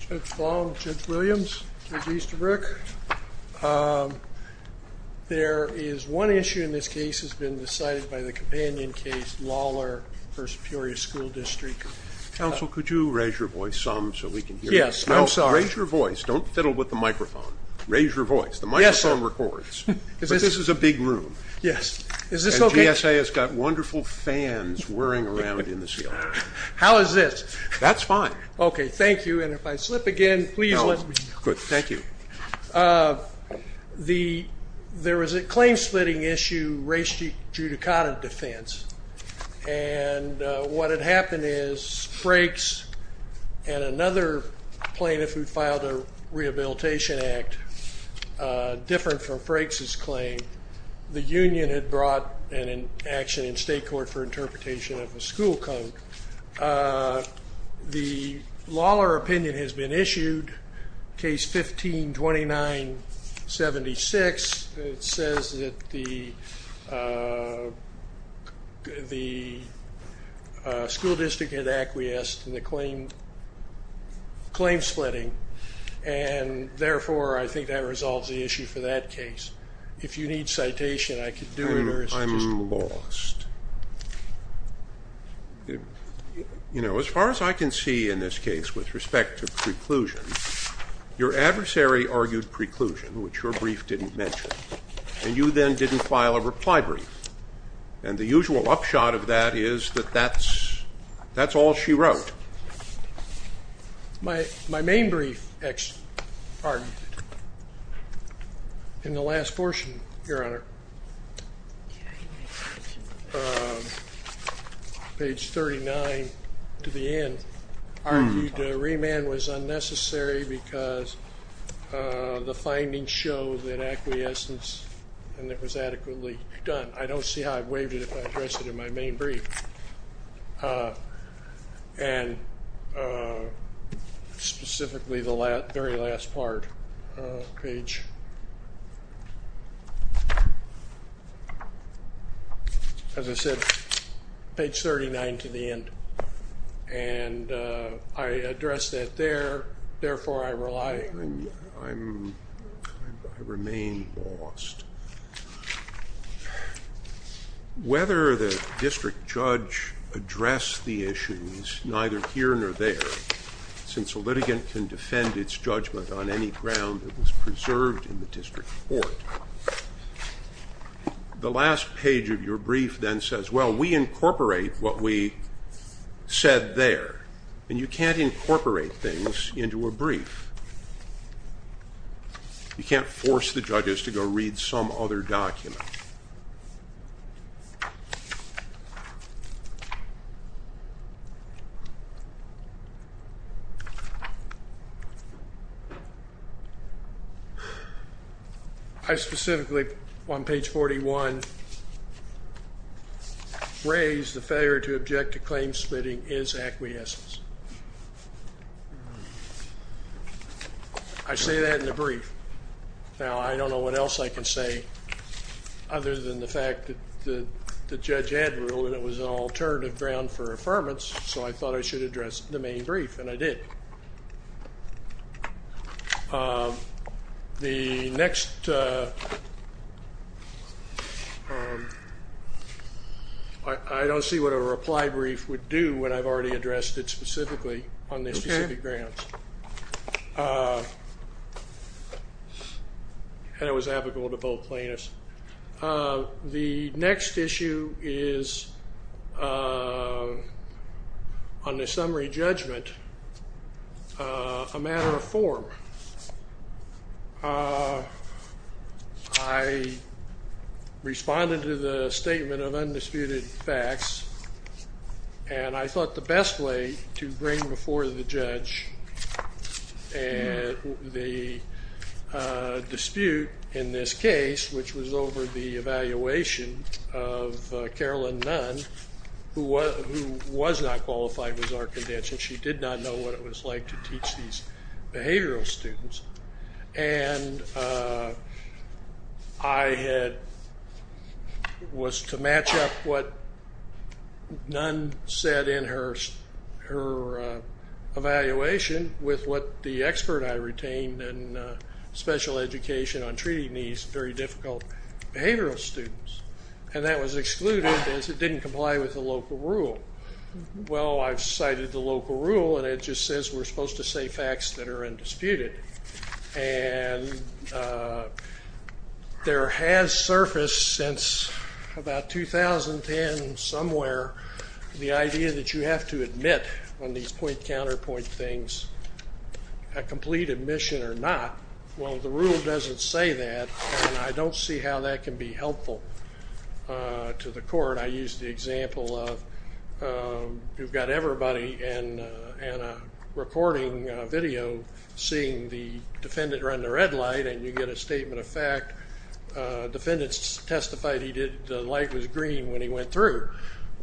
Judge Baum, Judge Williams, Judge Easterbrook, there is one issue in this case has been decided by the companion case Lawler v. Peoria School District. Counsel could you raise your voice some so we can hear you? Yes, I'm sorry. No, raise your voice. Don't fiddle with the microphone. Raise your voice. Yes, sir. The microphone records. But this is a big room. Yes. Is this okay? The ESA has got wonderful fans whirring around in this field. How is this? That's fine. Okay, thank you. And if I slip again, please let me know. Good, thank you. There was a claim splitting issue, race judicata defense, and what had happened is Frakes and another plaintiff who filed a rehabilitation act different from Frakes' claim, the union had brought an action in state court for interpretation of a school code. The Lawler opinion has been issued, case 15-29-76, it says that the school district had acquiesced in the claim splitting and therefore I think that resolves the issue for that case. If you need citation, I can do it or it's just... I'm lost. You know, as far as I can see in this case with respect to preclusion, your adversary argued preclusion, which your brief didn't mention, and you then didn't file a reply brief. And the usual upshot of that is that that's all she wrote. My main brief argued in the last portion, your honor, page 39 to the end, argued remand was unnecessary because the findings show that acquiescence and it was adequately done. I don't see how I've waived it if I address it in my main brief. And specifically the very last part, page, as I said, page 39 to the end, and I addressed it there, therefore I rely on you, I remain lost. Whether the district judge addressed the issues, neither here nor there, since a litigant can defend its judgment on any ground that was preserved in the district court. The last page of your brief then says, well, we incorporate what we said there, and you can't incorporate things into a brief. You can't force the judges to go read some other document. I specifically, on page 41, raise the failure to object to claim splitting is acquiescence. I say that in the brief. Now, I don't know what else I can say other than the fact that the judge had ruled it was an alternative ground for affirmance, so I thought I should address the main brief, and I did. The next, I don't see what a reply brief would do when I've already addressed it specifically on the specific grounds, and it was applicable to both plaintiffs. The next issue is, on the summary judgment, a matter of form. I responded to the statement of undisputed facts, and I thought the best way to bring before the judge the dispute in this case, which was over the evaluation of Carolyn Nunn, who was not qualified with our convention. She did not know what it was like to teach these behavioral students, and I had, was to match up what Nunn said in her evaluation with what the expert I retained in special education on treating these very difficult behavioral students, and that was excluded because it didn't comply with the local rule. Well, I've cited the local rule, and it just says we're supposed to say facts that are undisputed, and there has surfaced since about 2010 somewhere the idea that you have to admit on these point-counterpoint things a complete admission or not. Well, the rule doesn't say that, and I don't see how that can be helpful to the court. I used the example of, you've got everybody in a recording video seeing the defendant run the red light, and you get a statement of fact, defendant's testified he did, the light was green when he went through.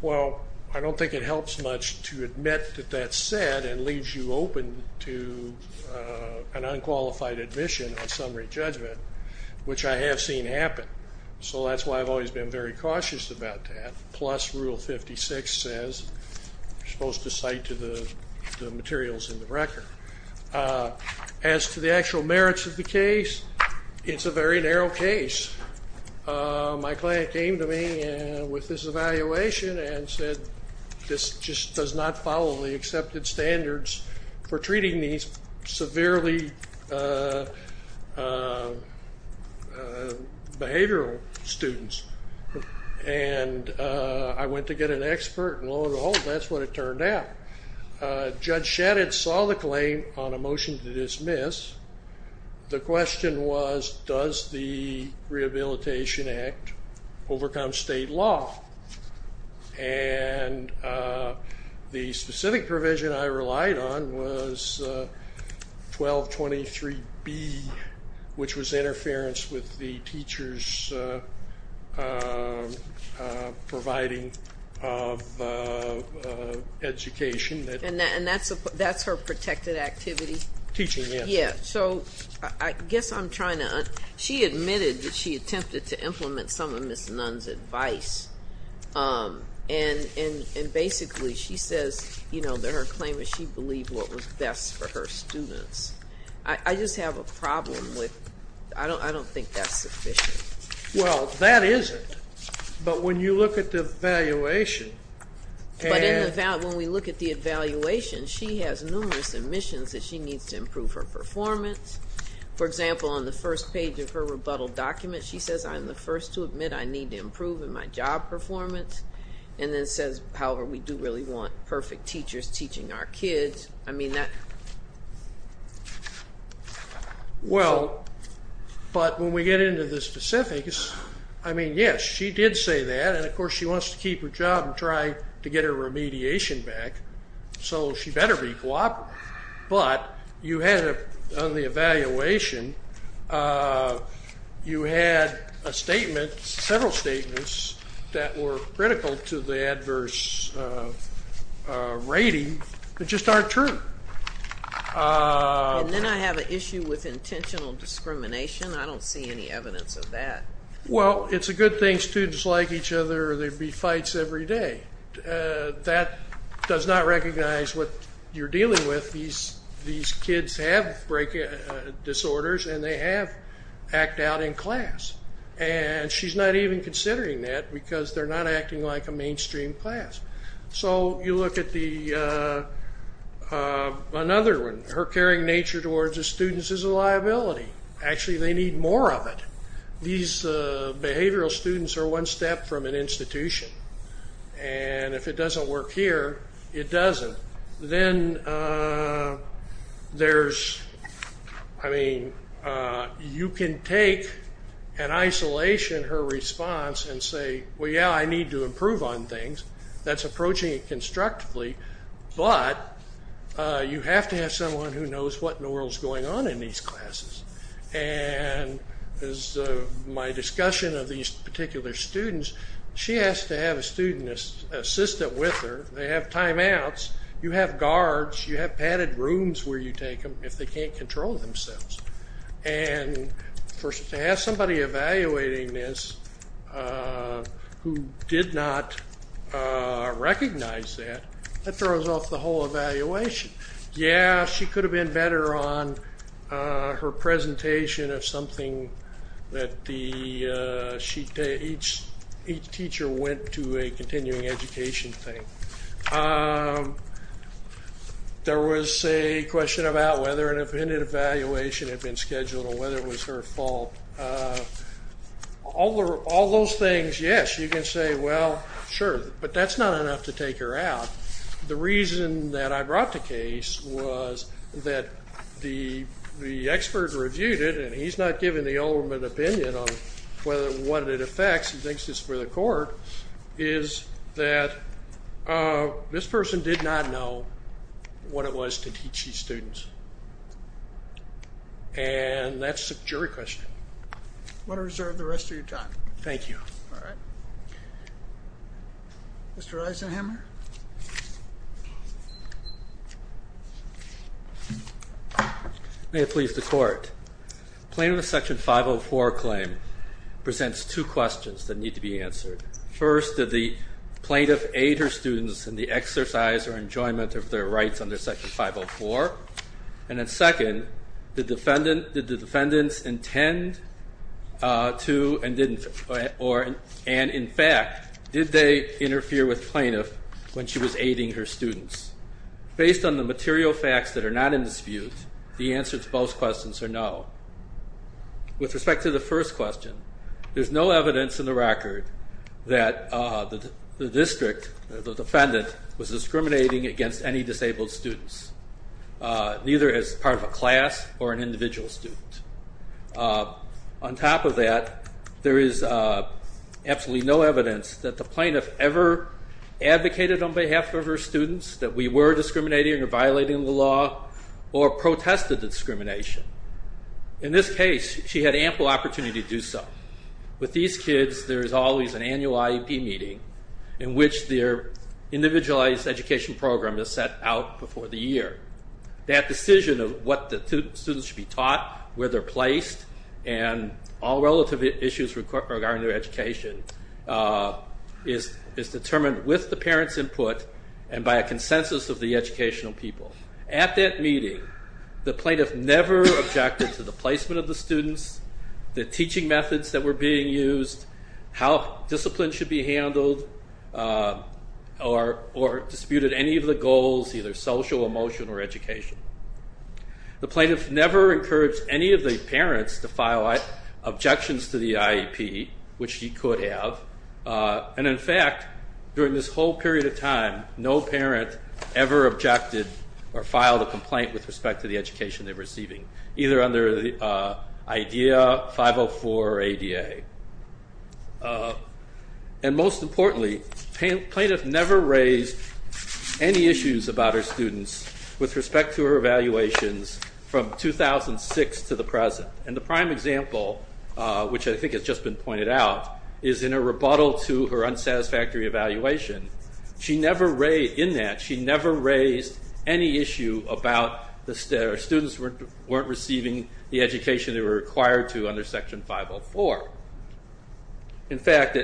Well, I don't think it helps much to admit that that's said and leaves you open to an unqualified admission on summary judgment, which I have seen happen. So that's why I've always been very cautious about that, plus rule 56 says you're supposed to cite to the materials in the record. As to the actual merits of the case, it's a very narrow case. My client came to me with this evaluation and said this just does not follow the accepted standards for treating these severely behavioral students, and I went to get an expert, and lo and behold, that's what it turned out. Judge Shadid saw the claim on a motion to dismiss. The question was does the Rehabilitation Act overcome state law, and the specific provision I relied on was 1223B, which was interference with the teacher's providing of education. And that's her protected activity? Teaching, yes. Yeah, so I guess I'm trying to, she admitted that she attempted to implement some of Ms. Nunn's advice, and basically she says, you know, that her claim is she believed what was best for her students. I just have a problem with, I don't think that's sufficient. Well, that isn't, but when you look at the evaluation. But when we look at the evaluation, she has numerous admissions that she needs to improve her performance. For example, on the first page of her rebuttal document, she says I'm the first to admit I need to improve in my job performance, and then says, however, we do really want perfect teachers teaching our kids. I mean, that. Well, but when we get into the specifics, I mean, yes, she did say that, and of course, she wants to keep her job and try to get her remediation back, so she better be cooperative. But you had, on the evaluation, you had a statement, several statements that were critical to the adverse rating that just aren't true. And then I have an issue with intentional discrimination. I don't see any evidence of that. Well, it's a good thing students like each other or there'd be fights every day. That does not recognize what you're dealing with. These kids have disorders, and they have act out in class. And she's not even considering that because they're not acting like a mainstream class. So you look at another one, her caring nature towards the students is a liability. Actually, they need more of it. These behavioral students are one step from an institution. And if it doesn't work here, it doesn't. Then there's, I mean, you can take an isolation, her response, and say, well, yeah, I need to improve on things. That's approaching it constructively. But you have to have someone who knows what in the world is going on in these classes. And as my discussion of these particular students, she has to have a student assistant with her. They have timeouts. You have guards. You have padded rooms where you take them if they can't control themselves. And to have somebody evaluating this who did not recognize that, that throws off the whole evaluation. Yeah, she could have been better on her presentation of something that each teacher went to a continuing education thing. There was a question about whether an evaluation had been scheduled or whether it was her fault. All those things, yes, you can say, well, sure. But that's not enough to take her out. The reason that I brought the case was that the expert reviewed it. And he's not giving the ultimate opinion on what it affects. He thinks it's for the court. Is that this person did not know what it was to teach these students. And that's a jury question. Want to reserve the rest of your time. Thank you. All right. Mr. Eisenhamer? May it please the court. Plaintiff's Section 504 claim presents two questions that need to be answered. First, did the plaintiff aid her students in the exercise or enjoyment of their rights under Section 504? And then second, did the defendants intend to and didn't? And in fact, did they interfere with plaintiff when she was aiding her students? Based on the material facts that are not in dispute, the answer to both questions are no. With respect to the first question, there's no evidence in the record that the district, the defendant, was discriminating against any disabled students, neither as part of a class or an individual student. On top of that, there is absolutely no evidence that the plaintiff ever advocated on behalf of her students that we were discriminating or violating the law or protested the discrimination. In this case, she had ample opportunity to do so. With these kids, there is always an annual IEP meeting in which their individualized education program is set out before the year. That decision of what the students should be taught, where they're placed, and all relative issues regarding their education is determined with the parents' input and by a consensus of the educational people. At that meeting, the plaintiff never objected to the placement of the students, the teaching methods that discipline should be handled, or disputed any of the goals, either social, emotional, or education. The plaintiff never encouraged any of the parents to file objections to the IEP, which she could have. And in fact, during this whole period of time, no parent ever objected or filed a complaint with respect to the education they're receiving, either under IDEA, 504, or ADA. And most importantly, plaintiff never raised any issues about her students with respect to her evaluations from 2006 to the present. And the prime example, which I think has just been pointed out, is in a rebuttal to her unsatisfactory evaluation. In that, she never raised any issue about the students weren't receiving the education they were required to under Section 504. In fact,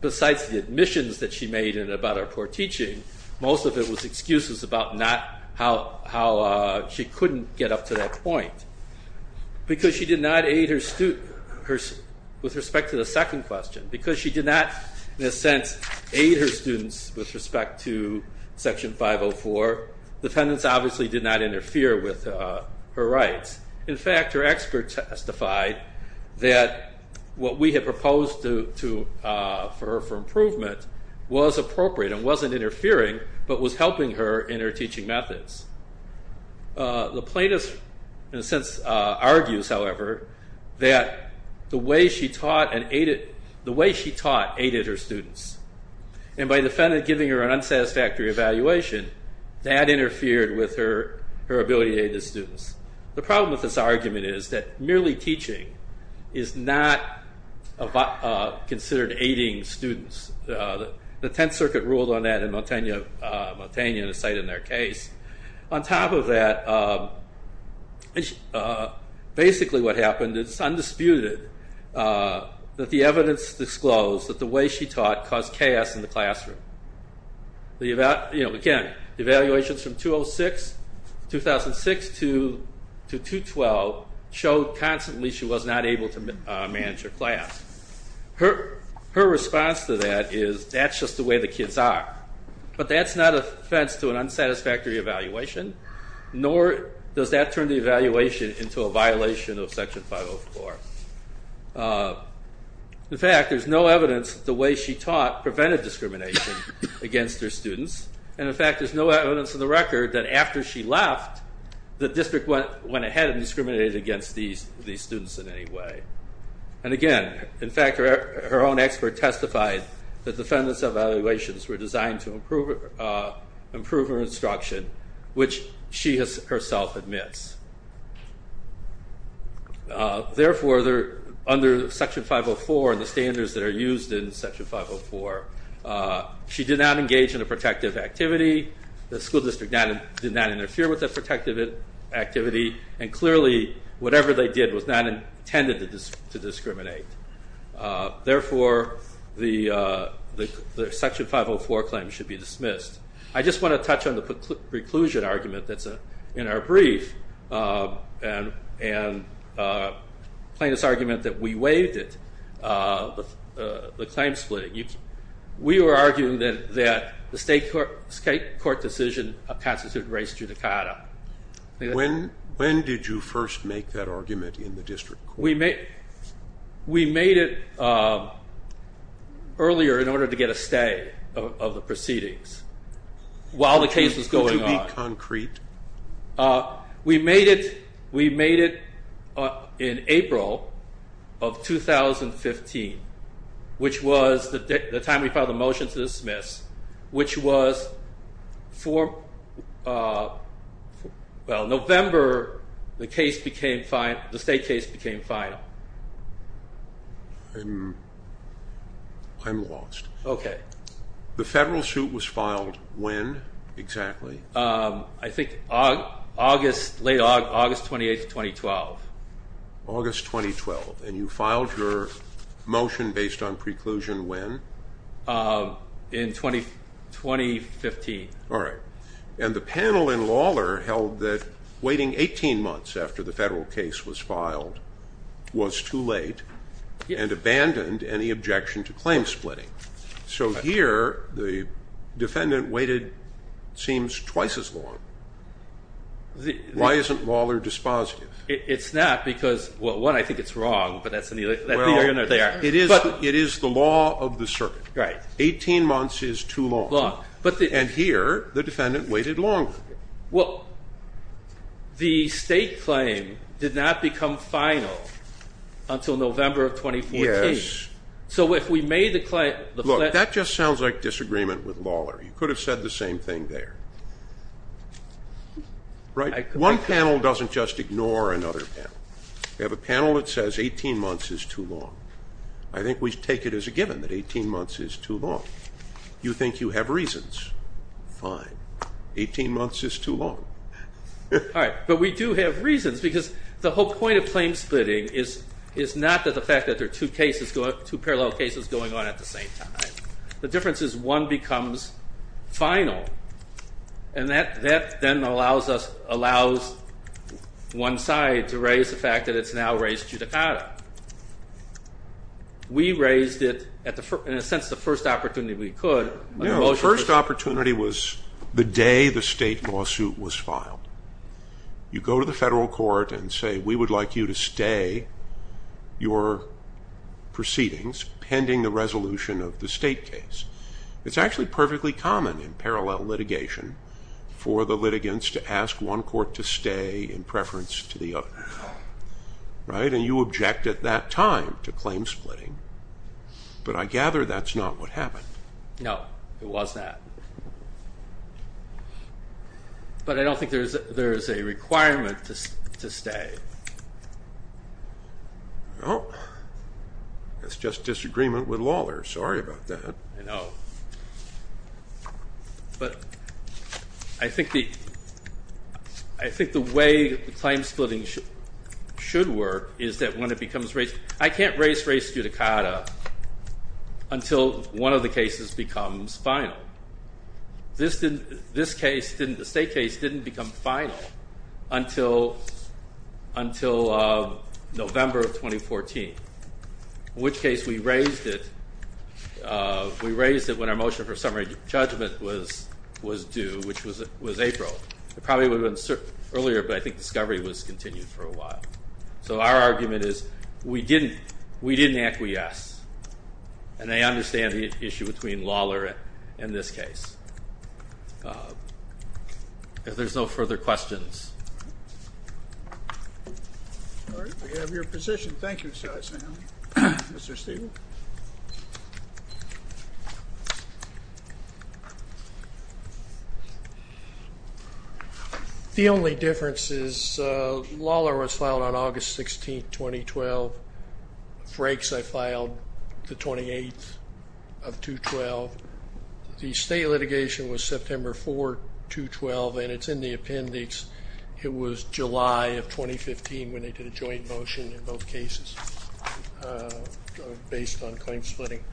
besides the admissions that she made about our poor teaching, most of it was excuses about how she couldn't get up to that point. Because she did not aid her students with respect to the second question, because she did not, in a sense, aid her students with respect to Section 504, defendants obviously did not interfere with her rights. In fact, her experts testified that what we had proposed for her for improvement was appropriate and wasn't interfering, but was helping her in her teaching methods. The plaintiff, in a sense, argues, however, that the way she taught aided her students. And by giving her an unsatisfactory evaluation, that interfered with her ability to aid the students. The problem with this argument is that merely teaching is not considered aiding students. The Tenth Circuit ruled on that in Montaigne and is cited in their case. On top of that, basically what happened is it's undisputed that the evidence disclosed that the way she taught caused chaos in the classroom. Again, the evaluations from 2006 to 2012 showed constantly she was not able to manage her class. Her response to that is, that's just the way the kids are. But that's not an offense to an unsatisfactory evaluation, nor does that turn the evaluation into a violation of Section 504. In fact, there's no evidence that the way she taught prevented discrimination against her students. And in fact, there's no evidence on the record that after she left, the district went ahead and discriminated against these students in any way. And again, in fact, her own expert testified that defendant's evaluations were designed to improve her instruction, which she herself admits. Therefore, under Section 504 and the standards that are used in Section 504, she did not engage in a protective activity. The school district did not interfere with that protective activity. And clearly, whatever they did was not intended to discriminate. Therefore, the Section 504 claim should be dismissed. I just want to touch on the preclusion argument that's in our brief and plaintiff's argument that we waived it. The claim splitting. We were arguing that the state court decision constituted res judicata. When did you first make that argument in the district court? We made it earlier in order to get a stay of the proceedings while the case was going on. Could you be concrete? We made it in April of 2015, which was the time we filed a motion to dismiss, which was for, well, November, the state case became final. I'm lost. OK. The federal suit was filed when exactly? I think late August 28, 2012. August 2012. And you filed your motion based on preclusion when? In 2015. All right. And the panel in Lawler held that waiting 18 months after the federal case was filed was too late and abandoned any objection to claim splitting. So here, the defendant waited, it seems, twice as long. Why isn't Lawler dispositive? It's not because, well, one, I think it's wrong, but that's the argument there. It is the law of the circuit. 18 months is too long. And here, the defendant waited longer. Well, the state claim did not become final until November of 2014. So if we made the claim, the federal case. Look, that just sounds like disagreement with Lawler. You could have said the same thing there. Right? One panel doesn't just ignore another panel. We have a panel that says 18 months is too long. I think we take it as a given that 18 months is too long. You think you have reasons. Fine. 18 months is too long. All right. But we do have reasons, because the whole point of claim is two parallel cases going on at the same time. The difference is one becomes final. And that then allows one side to raise the fact that it's now raised judicata. We raised it, in a sense, the first opportunity we could. No, the first opportunity was the day the state lawsuit was filed. You go to the federal court and say, we would like you to stay your proceedings pending the resolution of the state case. It's actually perfectly common in parallel litigation for the litigants to ask one court to stay in preference to the other. Right? And you object at that time to claim splitting. But I gather that's not what happened. No, it was not. But I don't think there is a requirement to stay. Well, that's just disagreement with Lawler. Sorry about that. I know. But I think the way the claim splitting should work is that when it becomes raised, I can't raise race judicata until one of the cases becomes final. This case, the state case, didn't become final until November of 2014, in which case we raised it when our motion for summary judgment was due, which was April. It probably would have been earlier, but I think discovery was continued for a while. So our argument is we didn't acquiesce. And I understand the issue between Lawler and this case. If there's no further questions. All right. We have your position. Thank you, Mr. Eisenhower. Mr. Stevens? The only difference is Lawler was filed on August 16, 2012. Frakes, I filed the 28th of 2012. The state litigation was September 4, 2012. And it's in the appendix. It was July of 2015 when they did a joint motion in both cases based on claim splitting.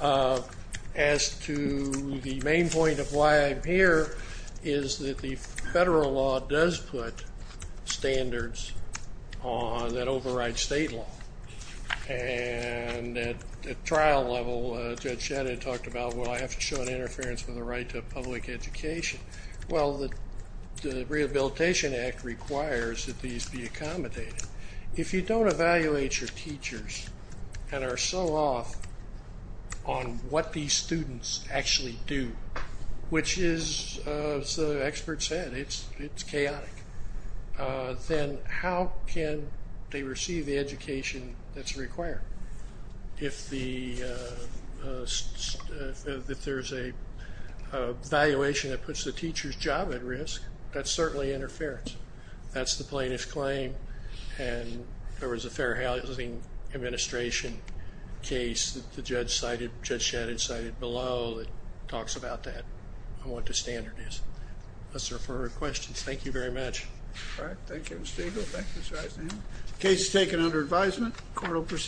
As to the main point of why I'm here is that the federal law does put standards on that override state law. And at trial level, Judge Shannon talked about, well, I have to show an interference with the right to public education. Well, the Rehabilitation Act requires that these be accommodated. If you don't evaluate your teachers and are so off on what these students actually do, which is, as the expert said, it's chaotic, then how can they receive the education that's required? If there's a valuation that puts the teacher's job at risk, that's certainly interference. That's the plaintiff's claim. And there was a Fair Housing Administration case that Judge Shannon cited below that talks about that and what the standard is. Let's refer to questions. Thank you very much. All right. Thank you, Mr. Eagle. Thank you, Mr. Eisenhower. Case is taken under advisement. Court will proceed.